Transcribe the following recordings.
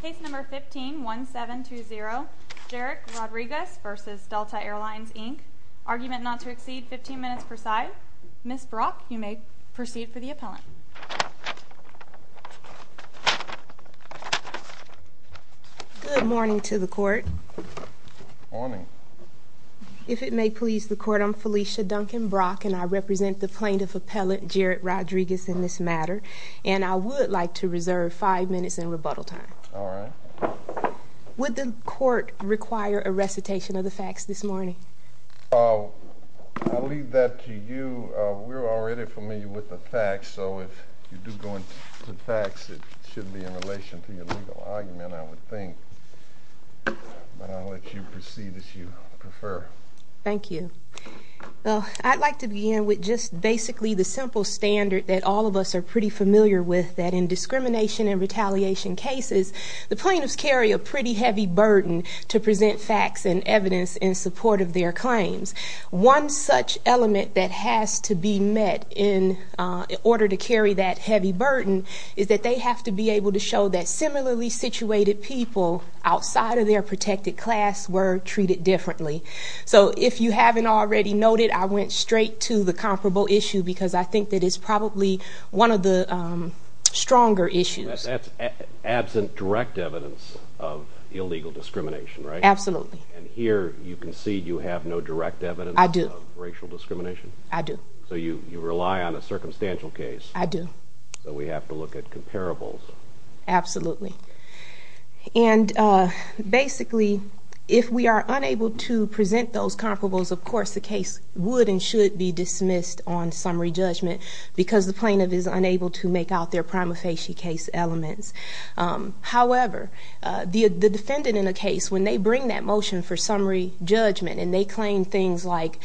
Case No. 15-1720, Jerrick Rodriques v. Delta Airlines Inc. Argument not to exceed 15 minutes per side. Ms. Brock, you may proceed for the appellant. Good morning to the court. Morning. If it may please the court, I'm Felicia Duncan Brock, and I represent the plaintiff appellant, Jerrick Rodriques, in this matter. And I would like to reserve five minutes in rebuttal time. All right. Would the court require a recitation of the facts this morning? I'll leave that to you. We're already familiar with the facts, so if you do go into the facts, it should be in relation to your legal argument, I would think. But I'll let you proceed as you prefer. Thank you. Well, I'd like to begin with just basically the simple standard that all of us are pretty familiar with, that in discrimination and retaliation cases, the plaintiffs carry a pretty heavy burden to present facts and evidence in support of their claims. One such element that has to be met in order to carry that heavy burden is that they have to be able to show that similarly situated people outside of their protected class were treated differently. So if you haven't already noted, I went straight to the comparable issue because I think that it's probably one of the stronger issues. That's absent direct evidence of illegal discrimination, right? Absolutely. And here you concede you have no direct evidence of racial discrimination? I do. So you rely on a circumstantial case. I do. So we have to look at comparables. Absolutely. And basically, if we are unable to present those comparables, of course the case would and should be dismissed on summary judgment because the plaintiff is unable to make out their prima facie case elements. However, the defendant in a case, when they bring that motion for summary judgment and they claim things like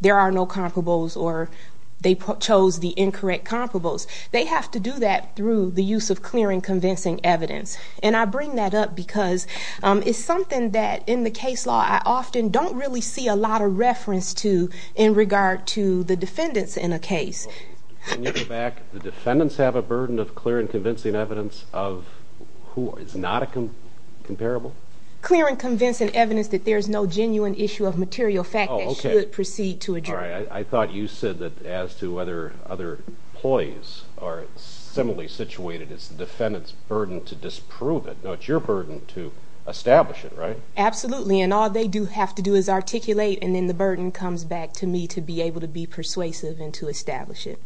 there are no comparables or they chose the incorrect comparables, they have to do that through the use of clear and convincing evidence. And I bring that up because it's something that in the case law I often don't really see a lot of reference to in regard to the defendants in a case. When you go back, the defendants have a burden of clear and convincing evidence of who is not a comparable? Clear and convincing evidence that there is no genuine issue of material fact that should proceed to a jury. I thought you said that as to whether other ploys are similarly situated, it's the defendant's burden to disprove it. No, it's your burden to establish it, right? Absolutely, and all they do have to do is articulate, and then the burden comes back to me to be able to be persuasive and to establish it.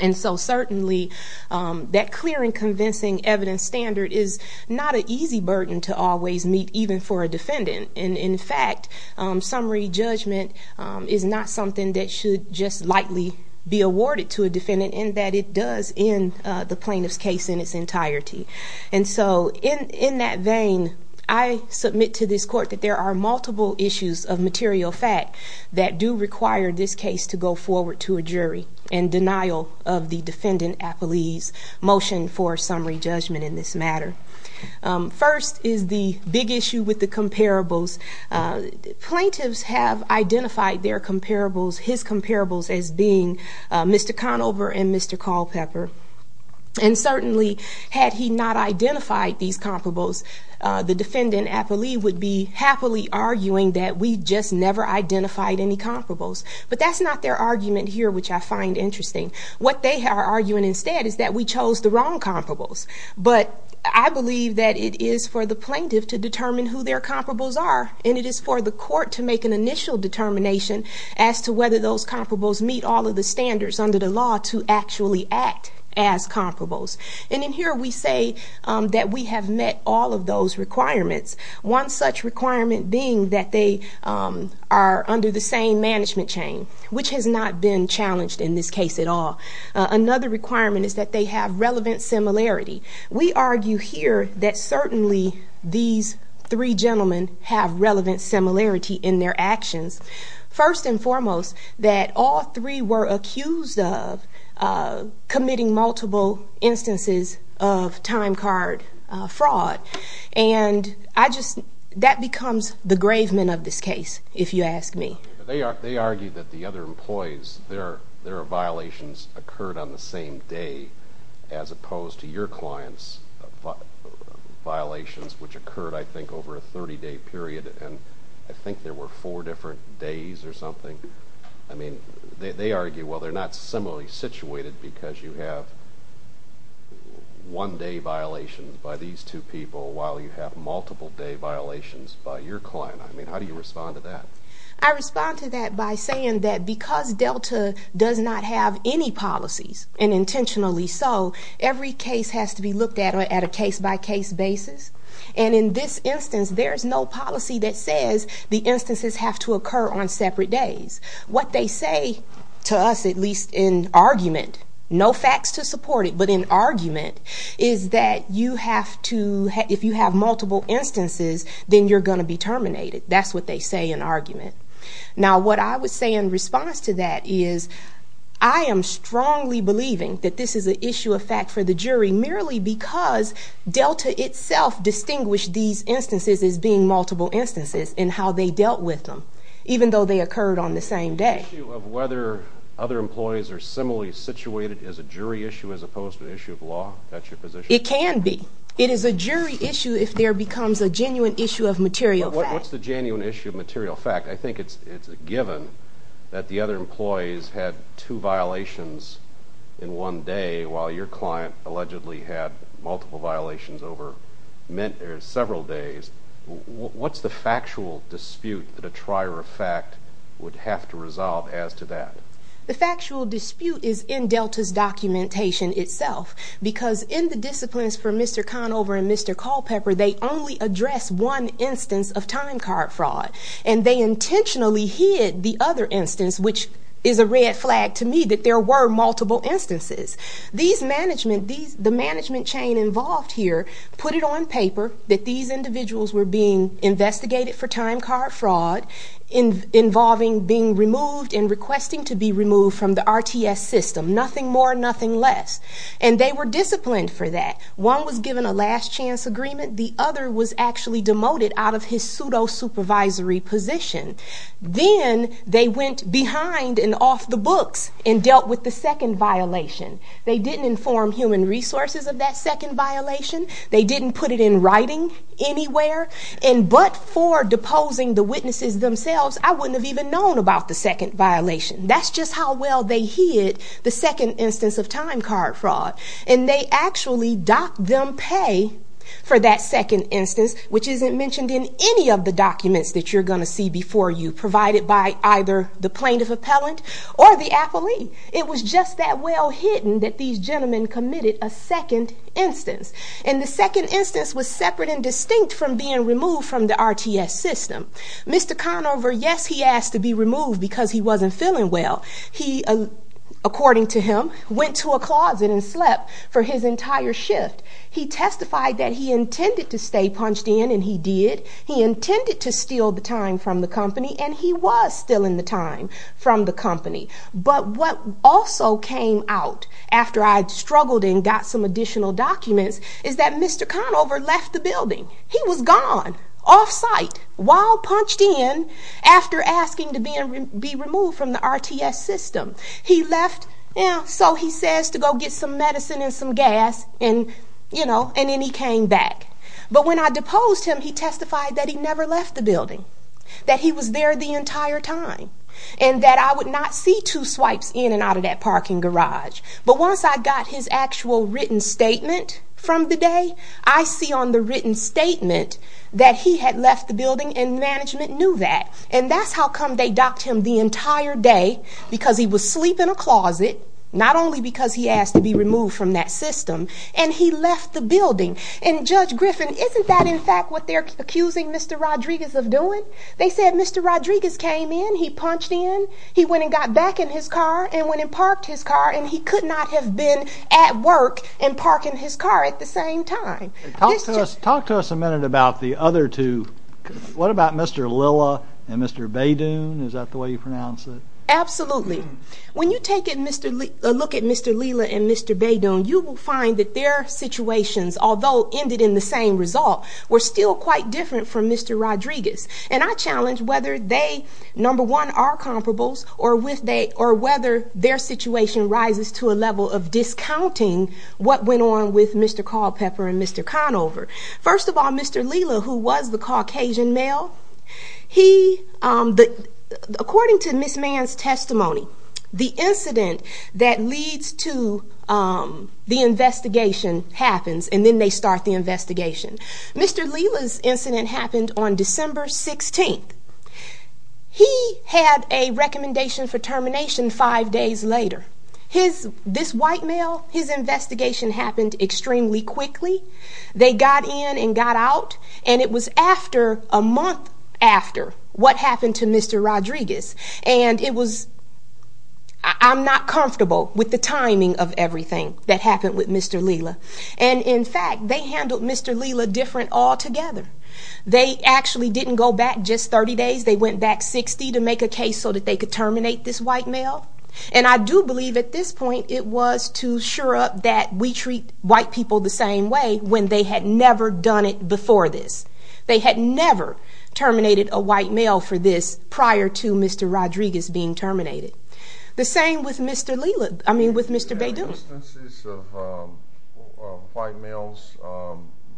And so certainly that clear and convincing evidence standard is not an easy burden to always meet, even for a defendant. And, in fact, summary judgment is not something that should just lightly be awarded to a defendant and that it does in the plaintiff's case in its entirety. And so in that vein, I submit to this court that there are multiple issues of material fact that do require this case to go forward to a jury and denial of the defendant's motion for summary judgment in this matter. First is the big issue with the comparables. Plaintiffs have identified their comparables, his comparables, as being Mr. Conover and Mr. Culpepper. And certainly had he not identified these comparables, the defendant, I believe, would be happily arguing that we just never identified any comparables. But that's not their argument here, which I find interesting. What they are arguing instead is that we chose the wrong comparables. But I believe that it is for the plaintiff to determine who their comparables are and it is for the court to make an initial determination as to whether those comparables meet all of the standards under the law to actually act as comparables. And in here we say that we have met all of those requirements. One such requirement being that they are under the same management chain, which has not been challenged in this case at all. Another requirement is that they have relevant similarity. We argue here that certainly these three gentlemen have relevant similarity in their actions. First and foremost, that all three were accused of committing multiple instances of time card fraud. And that becomes the grave men of this case, if you ask me. They argue that the other employees, their violations occurred on the same day as opposed to your client's violations, which occurred, I think, over a 30-day period. And I think there were four different days or something. I mean, they argue, well, they're not similarly situated because you have one-day violations by these two people while you have multiple-day violations by your client. I mean, how do you respond to that? I respond to that by saying that because Delta does not have any policies, and intentionally so, every case has to be looked at at a case-by-case basis. And in this instance, there is no policy that says the instances have to occur on separate days. What they say to us, at least in argument, no facts to support it, but in argument is that you have to, if you have multiple instances, then you're going to be terminated. That's what they say in argument. Now, what I would say in response to that is I am strongly believing that this is an issue of fact for the jury merely because Delta itself distinguished these instances as being multiple instances in how they dealt with them, even though they occurred on the same day. The issue of whether other employees are similarly situated is a jury issue as opposed to an issue of law? That's your position? It can be. It is a jury issue if there becomes a genuine issue of material fact. What's the genuine issue of material fact? I think it's a given that the other employees had two violations in one day while your client allegedly had multiple violations over several days. What's the factual dispute that a trier of fact would have to resolve as to that? The factual dispute is in Delta's documentation itself because in the disciplines for Mr. Conover and Mr. Culpepper, they only address one instance of time card fraud, and they intentionally hid the other instance, which is a red flag to me that there were multiple instances. The management chain involved here put it on paper that these individuals were being investigated for time card fraud involving being removed and requesting to be removed from the RTS system. Nothing more, nothing less. And they were disciplined for that. One was given a last chance agreement. The other was actually demoted out of his pseudo-supervisory position. Then they went behind and off the books and dealt with the second violation. They didn't inform human resources of that second violation. They didn't put it in writing anywhere. And but for deposing the witnesses themselves, I wouldn't have even known about the second violation. That's just how well they hid the second instance of time card fraud. And they actually docked them pay for that second instance, which isn't mentioned in any of the documents that you're going to see before you, provided by either the plaintiff appellant or the appellee. It was just that well hidden that these gentlemen committed a second instance. And the second instance was separate and distinct from being removed from the RTS system. Mr. Conover, yes, he asked to be removed because he wasn't feeling well. He, according to him, went to a closet and slept for his entire shift. He testified that he intended to stay punched in, and he did. He intended to steal the time from the company, and he was stealing the time from the company. But what also came out after I struggled and got some additional documents is that Mr. Conover left the building. He was gone, off-site, while punched in after asking to be removed from the RTS system. So he says to go get some medicine and some gas, and then he came back. But when I deposed him, he testified that he never left the building, that he was there the entire time, and that I would not see two swipes in and out of that parking garage. But once I got his actual written statement from the day, I see on the written statement that he had left the building and management knew that. And that's how come they docked him the entire day, because he was sleeping in a closet, not only because he asked to be removed from that system, and he left the building. And Judge Griffin, isn't that in fact what they're accusing Mr. Rodriguez of doing? They said Mr. Rodriguez came in, he punched in, he went and got back in his car, and went and parked his car, and he could not have been at work and parking his car at the same time. Talk to us a minute about the other two. What about Mr. Lilla and Mr. Baydoon? Is that the way you pronounce it? Absolutely. When you take a look at Mr. Lilla and Mr. Baydoon, you will find that their situations, although ended in the same result, were still quite different from Mr. Rodriguez. And I challenge whether they, number one, are comparables, or whether their situation rises to a level of discounting what went on with Mr. Culpepper and Mr. Conover. First of all, Mr. Lilla, who was the Caucasian male, he, according to Ms. Mann's testimony, the incident that leads to the investigation happens, and then they start the investigation. Mr. Lilla's incident happened on December 16th. He had a recommendation for termination five days later. This white male, his investigation happened extremely quickly. They got in and got out, and it was after a month after what happened to Mr. Rodriguez. And it was, I'm not comfortable with the timing of everything that happened with Mr. Lilla. And, in fact, they handled Mr. Lilla different altogether. They actually didn't go back just 30 days. They went back 60 to make a case so that they could terminate this white male. And I do believe at this point it was to sure up that we treat white people the same way when they had never done it before this. They had never terminated a white male for this prior to Mr. Rodriguez being terminated. The same with Mr. Lilla, I mean, with Mr. Badu. Were there any instances of white males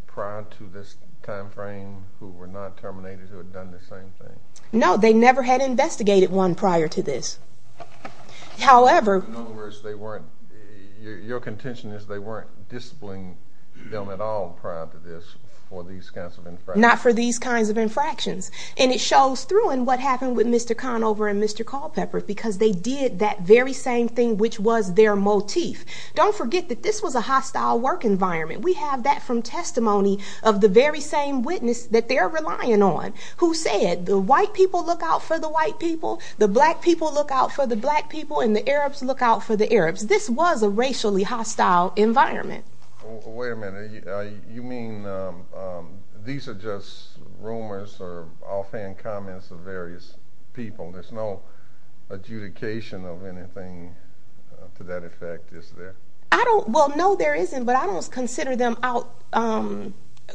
prior to this time frame who were not terminated who had done the same thing? No, they never had investigated one prior to this. However- In other words, they weren't, your contention is they weren't disciplining them at all prior to this for these kinds of infractions. And it shows through in what happened with Mr. Conover and Mr. Culpepper because they did that very same thing, which was their motif. Don't forget that this was a hostile work environment. We have that from testimony of the very same witness that they're relying on who said the white people look out for the white people. The black people look out for the black people and the Arabs look out for the Arabs. This was a racially hostile environment. Wait a minute. You mean these are just rumors or offhand comments of various people? There's no adjudication of anything to that effect, is there? Well, no, there isn't. But I don't consider them out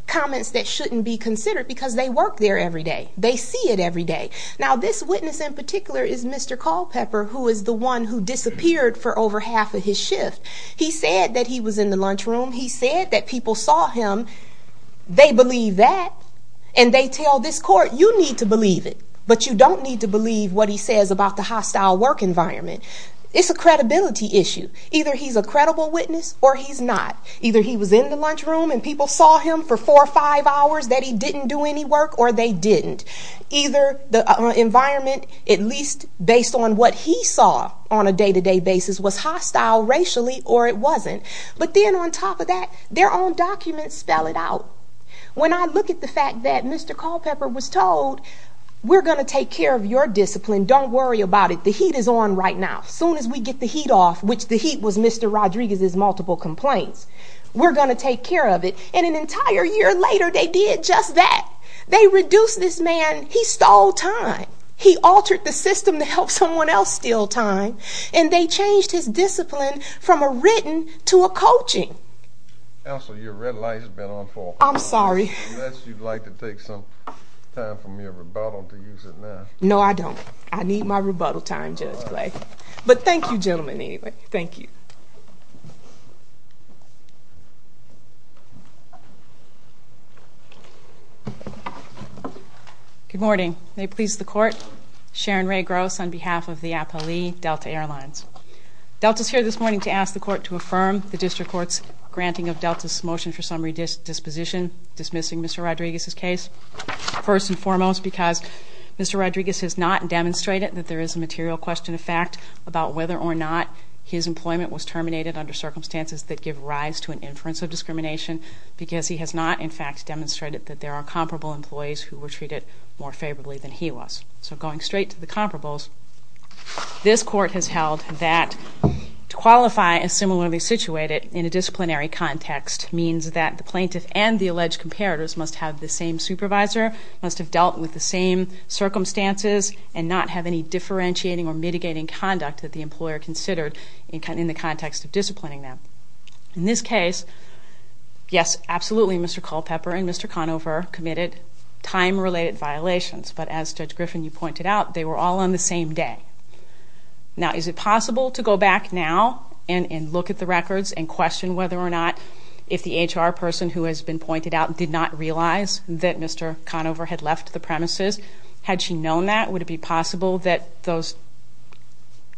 comments that shouldn't be considered because they work there every day. They see it every day. Now, this witness in particular is Mr. Culpepper, who is the one who disappeared for over half of his shift. He said that he was in the lunchroom. He said that people saw him. They believe that. And they tell this court, you need to believe it, but you don't need to believe what he says about the hostile work environment. It's a credibility issue. Either he's a credible witness or he's not. Either he was in the lunchroom and people saw him for four or five hours that he didn't do any work or they didn't. Either the environment, at least based on what he saw on a day-to-day basis, was hostile racially or it wasn't. But then on top of that, their own documents spell it out. When I look at the fact that Mr. Culpepper was told, we're going to take care of your discipline. Don't worry about it. The heat is on right now. Soon as we get the heat off, which the heat was Mr. Rodriguez's multiple complaints, we're going to take care of it. And an entire year later, they did just that. They reduced this man. He stole time. He altered the system to help someone else steal time. And they changed his discipline from a written to a coaching. Elsa, your red light has been on for a while. I'm sorry. Unless you'd like to take some time from your rebuttal to use it now. No, I don't. I need my rebuttal time, Judge Clay. But thank you, gentlemen, anyway. Thank you. Good morning. May it please the Court. Sharon Rae Gross on behalf of the Applee Delta Airlines. Delta's here this morning to ask the Court to affirm the District Court's granting of Delta's motion for summary disposition, dismissing Mr. Rodriguez's case. First and foremost, because Mr. Rodriguez has not demonstrated that there is a material question of fact about whether or not his employment was terminated under circumstances that give rise to an inference of discrimination, because he has not, in fact, demonstrated that there are comparable employees who were treated more favorably than he was. So going straight to the comparables, this Court has held that to qualify as similarly situated in a disciplinary context means that the plaintiff and the alleged comparators must have the same supervisor, must have dealt with the same circumstances, and not have any differentiating or mitigating conduct that the employer considered in the context of disciplining them. In this case, yes, absolutely, Mr. Culpepper and Mr. Conover committed time-related violations, but as Judge Griffin, you pointed out, they were all on the same day. Now, is it possible to go back now and look at the records and question whether or not if the HR person who has been pointed out did not realize that Mr. Conover had left the premises? Had she known that, would it be possible that those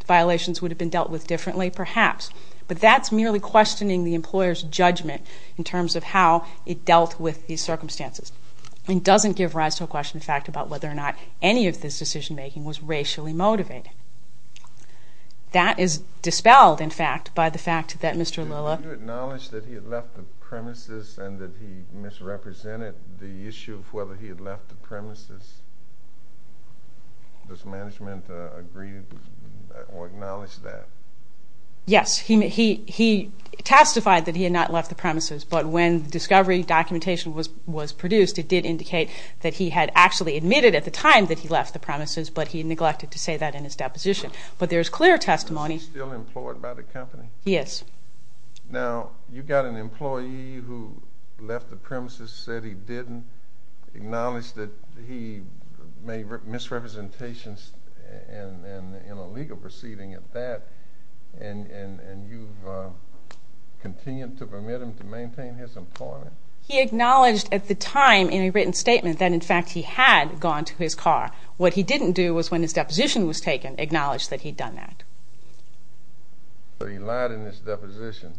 violations would have been dealt with differently? Perhaps, but that's merely questioning the employer's judgment in terms of how it dealt with these circumstances. It doesn't give rise to a question, in fact, about whether or not any of this decision-making was racially motivated. That is dispelled, in fact, by the fact that Mr. Lilla... Did you acknowledge that he had left the premises and that he misrepresented the issue of whether he had left the premises? Does management agree or acknowledge that? Yes, he testified that he had not left the premises, but when the discovery documentation was produced, it did indicate that he had actually admitted at the time that he left the premises, but he neglected to say that in his deposition. But there is clear testimony... Is he still employed by the company? He is. Now, you've got an employee who left the premises, said he didn't, acknowledged that he made misrepresentations in a legal proceeding at that, and you've continued to permit him to maintain his employment? He acknowledged at the time in a written statement that, in fact, he had gone to his car. What he didn't do was, when his deposition was taken, acknowledge that he'd done that. So he lied in his deposition,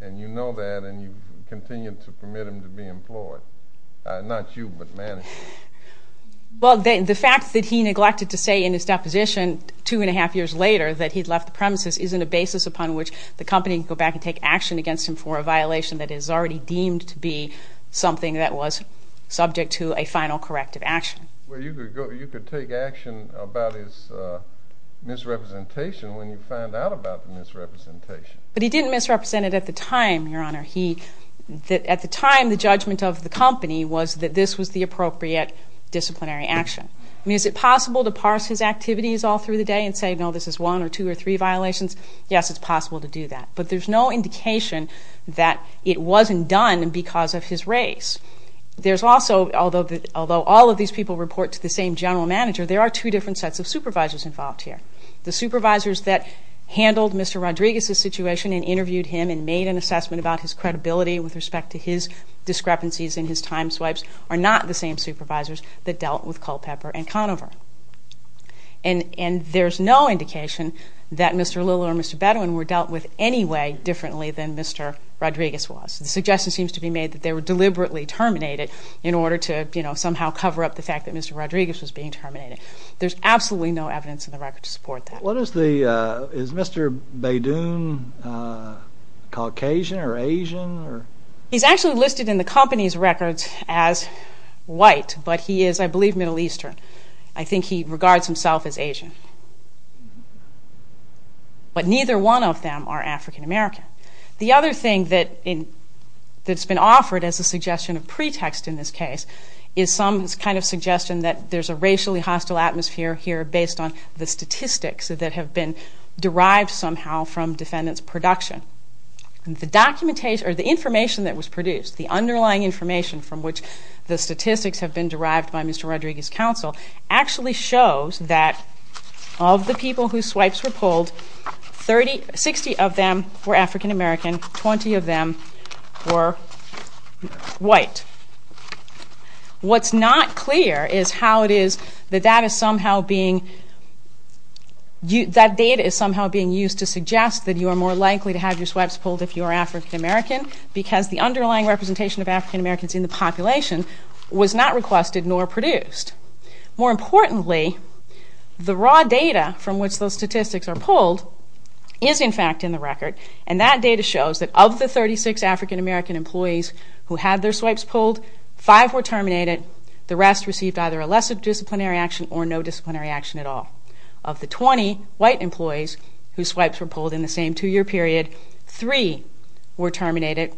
and you know that, and you've continued to permit him to be employed. Not you, but management. Well, the fact that he neglected to say in his deposition two and a half years later that he'd left the premises isn't a basis upon which the company can go back and take action against him for a violation that is already deemed to be something that was subject to a final corrective action. Well, you could take action about his misrepresentation when you find out about the misrepresentation. But he didn't misrepresent it at the time, Your Honor. At the time, the judgment of the company was that this was the appropriate disciplinary action. I mean, is it possible to parse his activities all through the day and say, no, this is one or two or three violations? Yes, it's possible to do that. But there's no indication that it wasn't done because of his race. There's also, although all of these people report to the same general manager, there are two different sets of supervisors involved here. The supervisors that handled Mr. Rodriguez's situation and interviewed him and made an assessment about his credibility with respect to his discrepancies and his time swipes are not the same supervisors that dealt with Culpepper and Conover. And there's no indication that Mr. Lilla or Mr. Bedouin were dealt with any way differently than Mr. Rodriguez was. The suggestion seems to be made that they were deliberately terminated in order to somehow cover up the fact that Mr. Rodriguez was being terminated. There's absolutely no evidence in the record to support that. Is Mr. Bedouin Caucasian or Asian? He's actually listed in the company's records as white, but he is, I believe, Middle Eastern. I think he regards himself as Asian. But neither one of them are African American. The other thing that's been offered as a suggestion of pretext in this case is some kind of suggestion that there's a racially hostile atmosphere here based on the statistics that have been derived somehow from defendants' production. The information that was produced, the underlying information from which the statistics have been derived by Mr. Rodriguez's counsel, actually shows that of the people whose swipes were pulled, 60 of them were African American, 20 of them were white. What's not clear is how it is that that data is somehow being used to suggest that you are more likely to have your swipes pulled if you are African American because the underlying representation of African Americans in the population was not requested nor produced. More importantly, the raw data from which those statistics are pulled is in fact in the record, and that data shows that of the 36 African American employees who had their swipes pulled, five were terminated, the rest received either a lesser disciplinary action or no disciplinary action at all. Of the 20 white employees whose swipes were pulled in the same two-year period, three were terminated,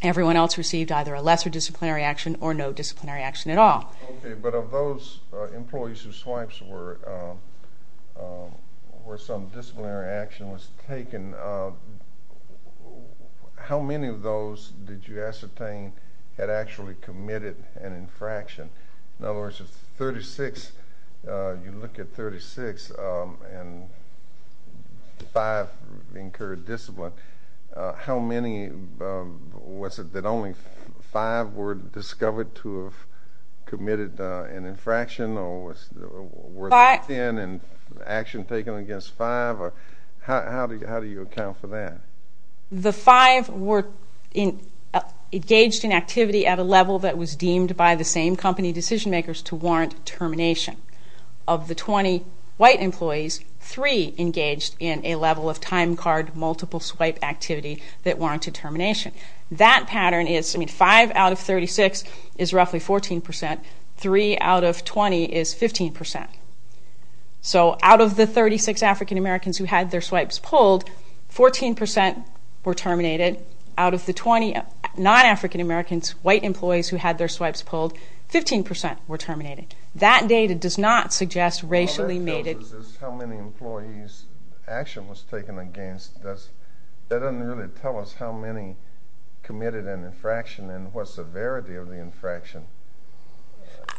everyone else received either a lesser disciplinary action or no disciplinary action at all. Okay, but of those employees whose swipes were some disciplinary action was taken, how many of those did you ascertain had actually committed an infraction? In other words, if you look at 36 and five incurred discipline, how many was it that only five were discovered to have committed an infraction or were they thin in action taken against five? How do you account for that? The five were engaged in activity at a level that was deemed by the same company decision makers to warrant termination. Of the 20 white employees, three engaged in a level of time card multiple swipe activity that warranted termination. That pattern is five out of 36 is roughly 14%, three out of 20 is 15%. So out of the 36 African Americans who had their swipes pulled, 14% were terminated. Out of the 20 non-African Americans, white employees who had their swipes pulled, 15% were terminated. That data does not suggest racially mated... All that tells us is how many employees action was taken against. That doesn't really tell us how many committed an infraction and what severity of the infraction.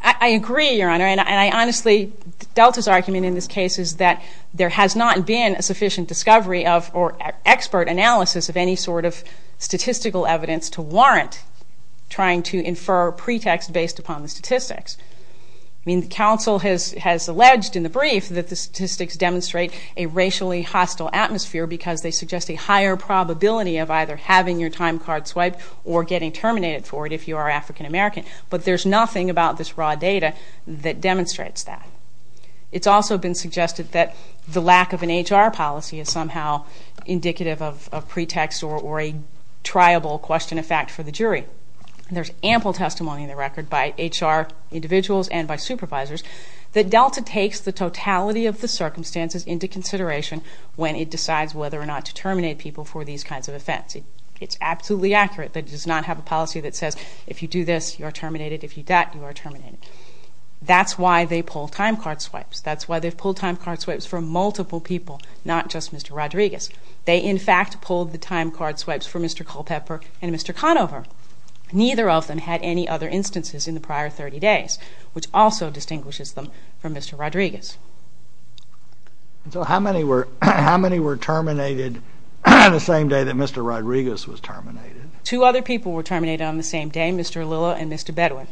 I agree, Your Honor, and I honestly... Delta's argument in this case is that there has not been a sufficient discovery of or expert analysis of any sort of statistical evidence to warrant trying to infer pretext based upon the statistics. I mean, the counsel has alleged in the brief that the statistics demonstrate a racially hostile atmosphere because they suggest a higher probability of either having your time card swiped or getting terminated for it if you are African American. But there's nothing about this raw data that demonstrates that. It's also been suggested that the lack of an HR policy is somehow indicative of pretext or a triable question of fact for the jury. There's ample testimony in the record by HR individuals and by supervisors that Delta takes the totality of the circumstances into consideration when it decides whether or not to terminate people for these kinds of offense. It's absolutely accurate. It does not have a policy that says if you do this, you are terminated. If you do that, you are terminated. That's why they pull time card swipes. That's why they've pulled time card swipes for multiple people, not just Mr. Rodriguez. They, in fact, pulled the time card swipes for Mr. Culpepper and Mr. Conover. Neither of them had any other instances in the prior 30 days, which also distinguishes them from Mr. Rodriguez. So how many were terminated on the same day that Mr. Rodriguez was terminated? Two other people were terminated on the same day, Mr. Lilla and Mr. Bedwin.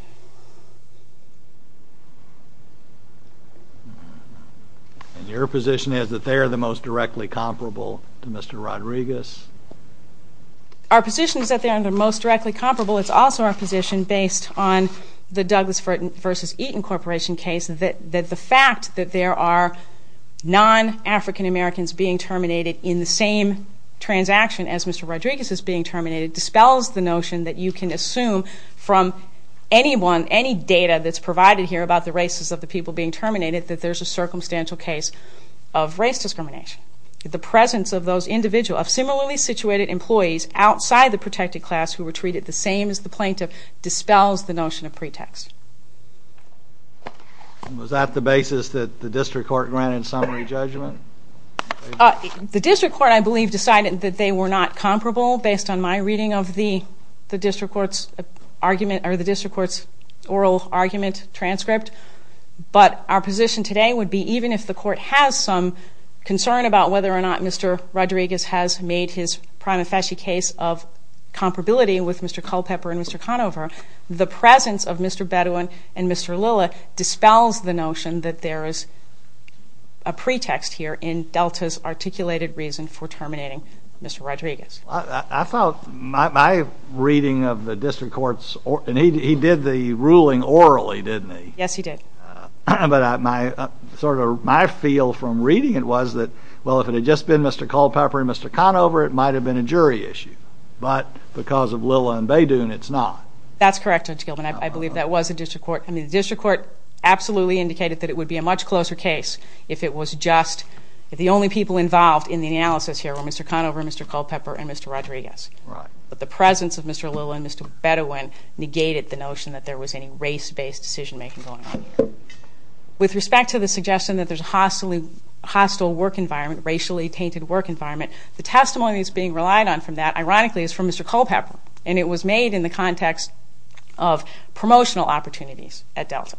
And your position is that they are the most directly comparable to Mr. Rodriguez? Our position is that they are the most directly comparable. It's also our position, based on the Douglas v. Eaton Corporation case, that the fact that there are non-African Americans being terminated in the same transaction as Mr. Rodriguez is being terminated dispels the notion that you can assume from anyone, any data that's provided here about the races of the people being terminated, that there's a circumstantial case of race discrimination. The presence of those individuals, of similarly situated employees outside the protected class who were treated the same as the plaintiff, dispels the notion of pretext. Was that the basis that the district court granted summary judgment? The district court, I believe, decided that they were not comparable based on my reading of the district court's oral argument transcript. But our position today would be even if the court has some concern about whether or not Mr. Rodriguez has made his prima facie case of comparability with Mr. Culpepper and Mr. Conover, the presence of Mr. Bedwin and Mr. Lilla dispels the notion that there is a pretext here in Delta's articulated reason for terminating Mr. Rodriguez. I thought my reading of the district court's, and he did the ruling orally, didn't he? Yes, he did. But my feel from reading it was that, well, if it had just been Mr. Culpepper and Mr. Conover, it might have been a jury issue. But because of Lilla and Bedwin, it's not. That's correct, Judge Gilman. I believe that was the district court. I mean, the district court absolutely indicated that it would be a much closer case if the only people involved in the analysis here were Mr. Conover, Mr. Culpepper, and Mr. Rodriguez. But the presence of Mr. Lilla and Mr. Bedwin negated the notion that there was any race-based decision-making going on here. With respect to the suggestion that there's a hostile work environment, racially tainted work environment, the testimony that's being relied on from that, ironically, is from Mr. Culpepper. And it was made in the context of promotional opportunities at Delta.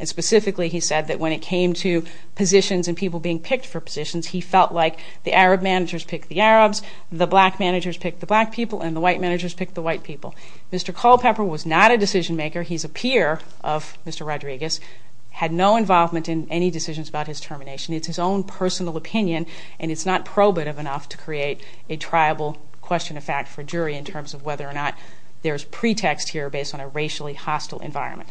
And specifically, he said that when it came to positions and people being picked for positions, he felt like the Arab managers picked the Arabs, the black managers picked the black people, and the white managers picked the white people. Mr. Culpepper was not a decision-maker. He's a peer of Mr. Rodriguez, had no involvement in any decisions about his termination. It's his own personal opinion, and it's not probative enough to create a triable question of fact for a jury in terms of whether or not there's pretext here based on a racially hostile environment.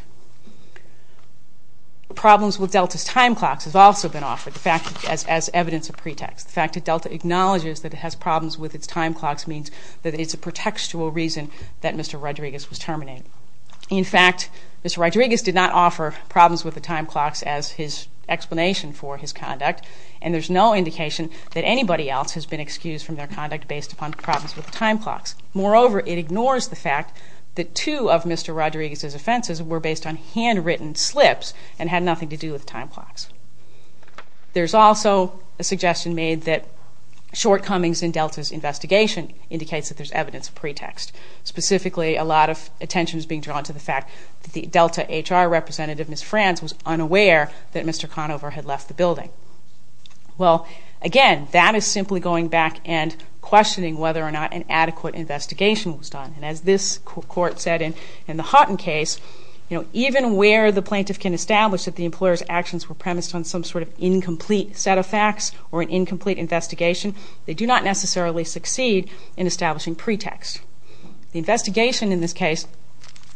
Problems with Delta's time clocks have also been offered as evidence of pretext. The fact that Delta acknowledges that it has problems with its time clocks means that it's a pretextual reason that Mr. Rodriguez was terminated. In fact, Mr. Rodriguez did not offer problems with the time clocks as his explanation for his conduct, and there's no indication that anybody else has been excused from their conduct based upon problems with the time clocks. Moreover, it ignores the fact that two of Mr. Rodriguez's offenses were based on handwritten slips and had nothing to do with time clocks. There's also a suggestion made that shortcomings in Delta's investigation indicates that there's evidence of pretext. Specifically, a lot of attention is being drawn to the fact that the Delta HR representative, Ms. Franz, was unaware that Mr. Conover had left the building. Well, again, that is simply going back and questioning whether or not an adequate investigation was done. And as this court said in the Hutton case, even where the plaintiff can establish that the employer's actions were premised on some sort of incomplete set of facts or an incomplete investigation, they do not necessarily succeed in establishing pretext. The investigation in this case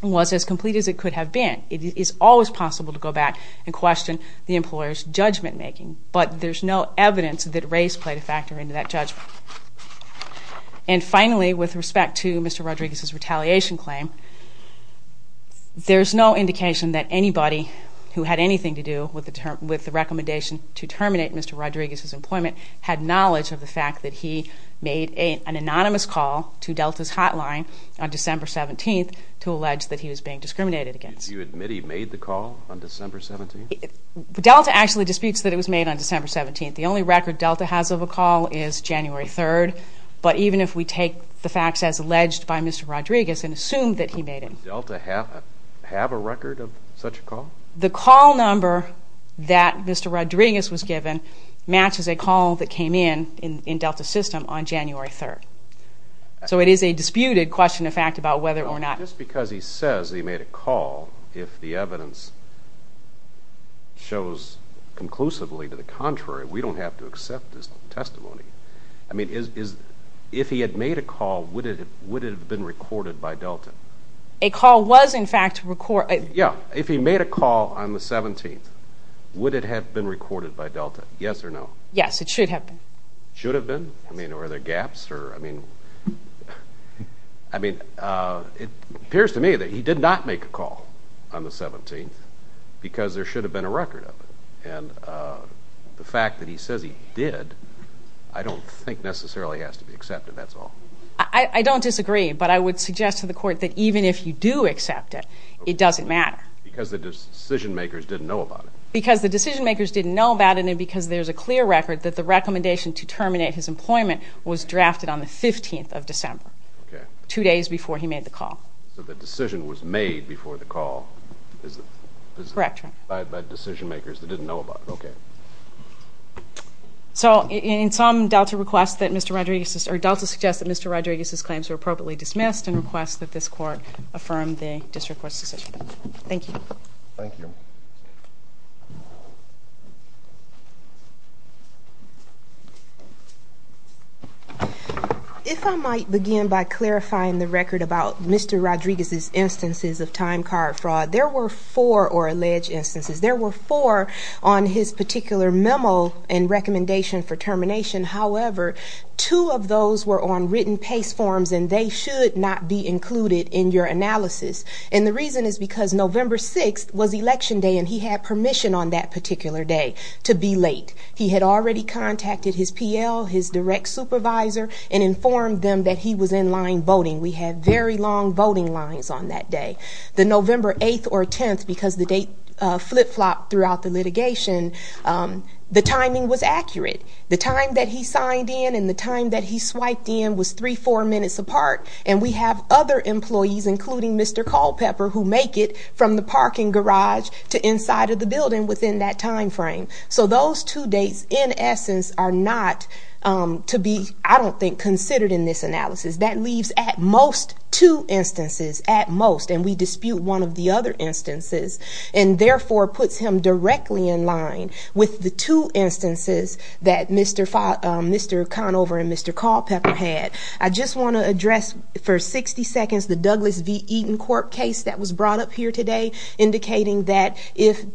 was as complete as it could have been. It is always possible to go back and question the employer's judgment making, but there's no evidence that race played a factor into that judgment. And finally, with respect to Mr. Rodriguez's retaliation claim, there's no indication that anybody who had anything to do with the recommendation to terminate Mr. Rodriguez's employment had knowledge of the fact that he made an anonymous call to Delta's hotline on December 17th to allege that he was being discriminated against. Do you admit he made the call on December 17th? Delta actually disputes that it was made on December 17th. The only record Delta has of a call is January 3rd, but even if we take the facts as alleged by Mr. Rodriguez and assume that he made it. Did Delta have a record of such a call? The call number that Mr. Rodriguez was given matches a call that came in in Delta's system on January 3rd. So it is a disputed question of fact about whether or not... Just because he says he made a call, if the evidence shows conclusively to the contrary, we don't have to accept his testimony. I mean, if he had made a call, would it have been recorded by Delta? A call was, in fact, recorded. Yeah. If he made a call on the 17th, would it have been recorded by Delta? Yes or no? Yes, it should have been. Should have been? I mean, are there gaps? I mean, it appears to me that he did not make a call on the 17th because there should have been a record of it. And the fact that he says he did, I don't think necessarily has to be accepted. That's all. I don't disagree, but I would suggest to the Court that even if you do accept it, it doesn't matter. Because the decision-makers didn't know about it. Because the decision-makers didn't know about it and because there's a clear record that the recommendation to terminate his employment was drafted on the 15th of December, two days before he made the call. So the decision was made before the call. Correct. By decision-makers that didn't know about it. Okay. So in sum, Delta suggests that Mr. Rodriguez's claims were appropriately dismissed and requests that this Court affirm the District Court's decision. Thank you. Thank you. If I might begin by clarifying the record about Mr. Rodriguez's instances of time card fraud, there were four or alleged instances. There were four on his particular memo and recommendation for termination. However, two of those were on written PACE forms, and they should not be included in your analysis. And the reason is because November 6th was Election Day, and he had permission on that particular day to be late. He had already contacted his PL, his direct supervisor, and informed them that he was in line voting. We had very long voting lines on that day. The November 8th or 10th, because the date flip-flopped throughout the litigation, the timing was accurate. The time that he signed in and the time that he swiped in was three, four minutes apart, and we have other employees, including Mr. Culpepper, who make it from the parking garage to inside of the building within that time frame. So those two dates, in essence, are not to be, I don't think, considered in this analysis. That leaves at most two instances, at most, and we dispute one of the other instances and therefore puts him directly in line with the two instances that Mr. Conover and Mr. Culpepper had. I just want to address for 60 seconds the Douglas v. Eaton court case that was brought up here today, indicating that if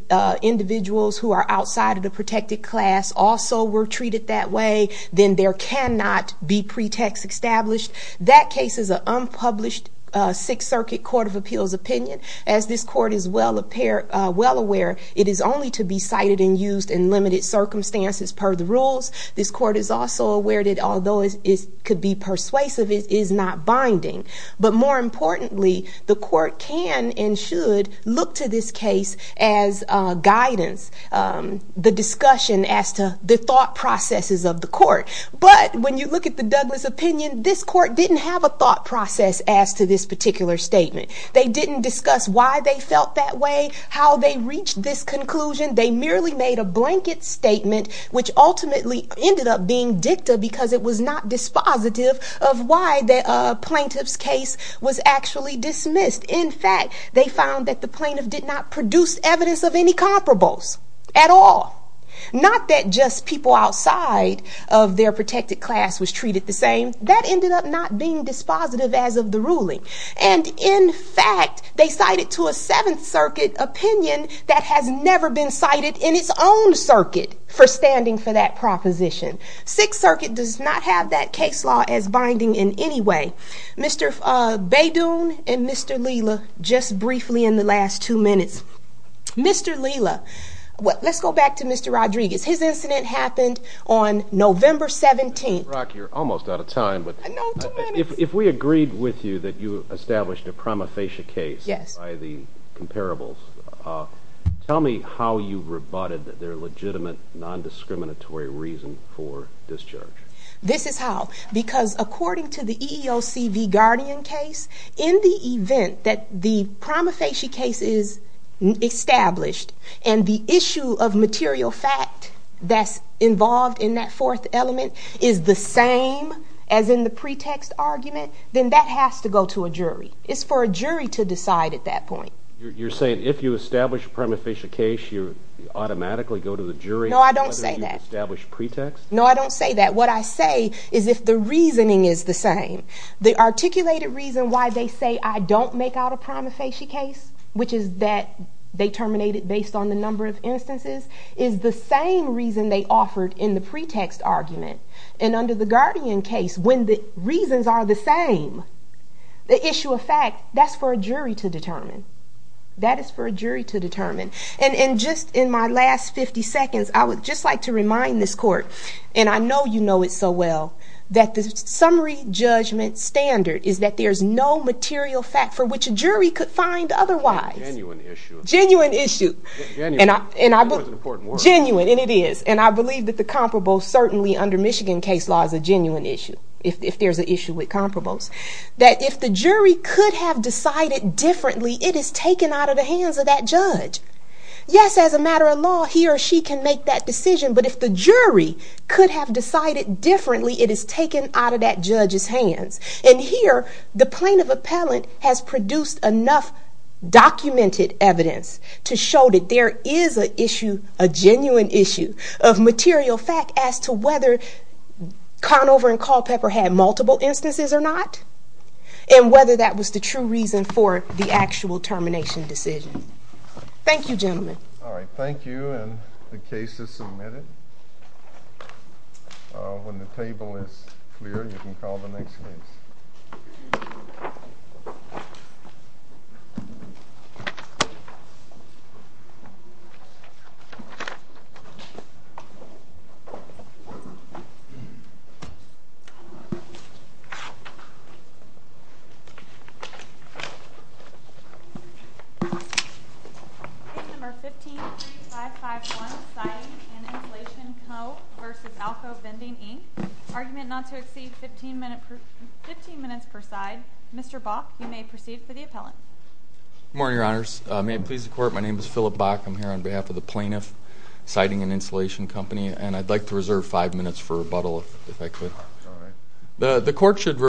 individuals who are outside of the protected class also were treated that way, then there cannot be pretext established. That case is an unpublished Sixth Circuit Court of Appeals opinion. As this court is well aware, it is only to be cited and used in limited circumstances per the rules. This court is also aware that although it could be persuasive, it is not binding. But more importantly, the court can and should look to this case as guidance, the discussion as to the thought processes of the court. But when you look at the Douglas opinion, this court didn't have a thought process as to this particular statement. They didn't discuss why they felt that way, how they reached this conclusion. They merely made a blanket statement, which ultimately ended up being dicta because it was not dispositive of why the plaintiff's case was actually dismissed. In fact, they found that the plaintiff did not produce evidence of any comparables at all. Not that just people outside of their protected class was treated the same. That ended up not being dispositive as of the ruling. And in fact, they cited to a Seventh Circuit opinion that has never been cited in its own circuit for standing for that proposition. Sixth Circuit does not have that case law as binding in any way. Mr. Beydoun and Mr. Leela, just briefly in the last two minutes. Mr. Leela, let's go back to Mr. Rodriguez. His incident happened on November 17th. Ms. Brock, you're almost out of time. If we agreed with you that you established a prima facie case by the comparables, tell me how you rebutted their legitimate, nondiscriminatory reason for discharge. This is how. Because according to the EEOC v. Guardian case, in the event that the prima facie case is established and the issue of material fact that's involved in that fourth element is the same as in the pretext argument, then that has to go to a jury. It's for a jury to decide at that point. You're saying if you establish a prima facie case, you automatically go to the jury? No, I don't say that. Whether you establish pretext? No, I don't say that. What I say is if the reasoning is the same. The articulated reason why they say I don't make out a prima facie case, which is that they terminate it based on the number of instances, is the same reason they offered in the pretext argument. And under the Guardian case, when the reasons are the same, the issue of fact, that's for a jury to determine. That is for a jury to determine. And just in my last 50 seconds, I would just like to remind this court, and I know you know it so well, that the summary judgment standard is that there's no material fact for which a jury could find otherwise. Genuine issue. Genuine issue. Genuine. Genuine, and it is. And I believe that the comparable certainly under Michigan case law is a genuine issue. If there's an issue with comparables, that if the jury could have decided differently, it is taken out of the hands of that judge. Yes, as a matter of law, he or she can make that decision. But if the jury could have decided differently, it is taken out of that judge's hands. And here, the plaintiff appellant has produced enough documented evidence to show that there is an issue, a genuine issue of material fact as to whether Conover and Culpepper had multiple instances or not, and whether that was the true reason for the actual termination decision. Thank you, gentlemen. All right, thank you, and the case is submitted. When the table is clear, you can call the next case. Case No. 15-3551, Siding and Inflation Co. v. Alco Vending, Inc. Argument not to exceed 15 minutes per side. Mr. Bock, you may proceed for the appellant. Good morning, Your Honors. May it please the Court, my name is Phillip Bock. I'm here on behalf of the plaintiff, Siding and Inflation Company, and I'd like to reserve five minutes for rebuttal, if I could. All right.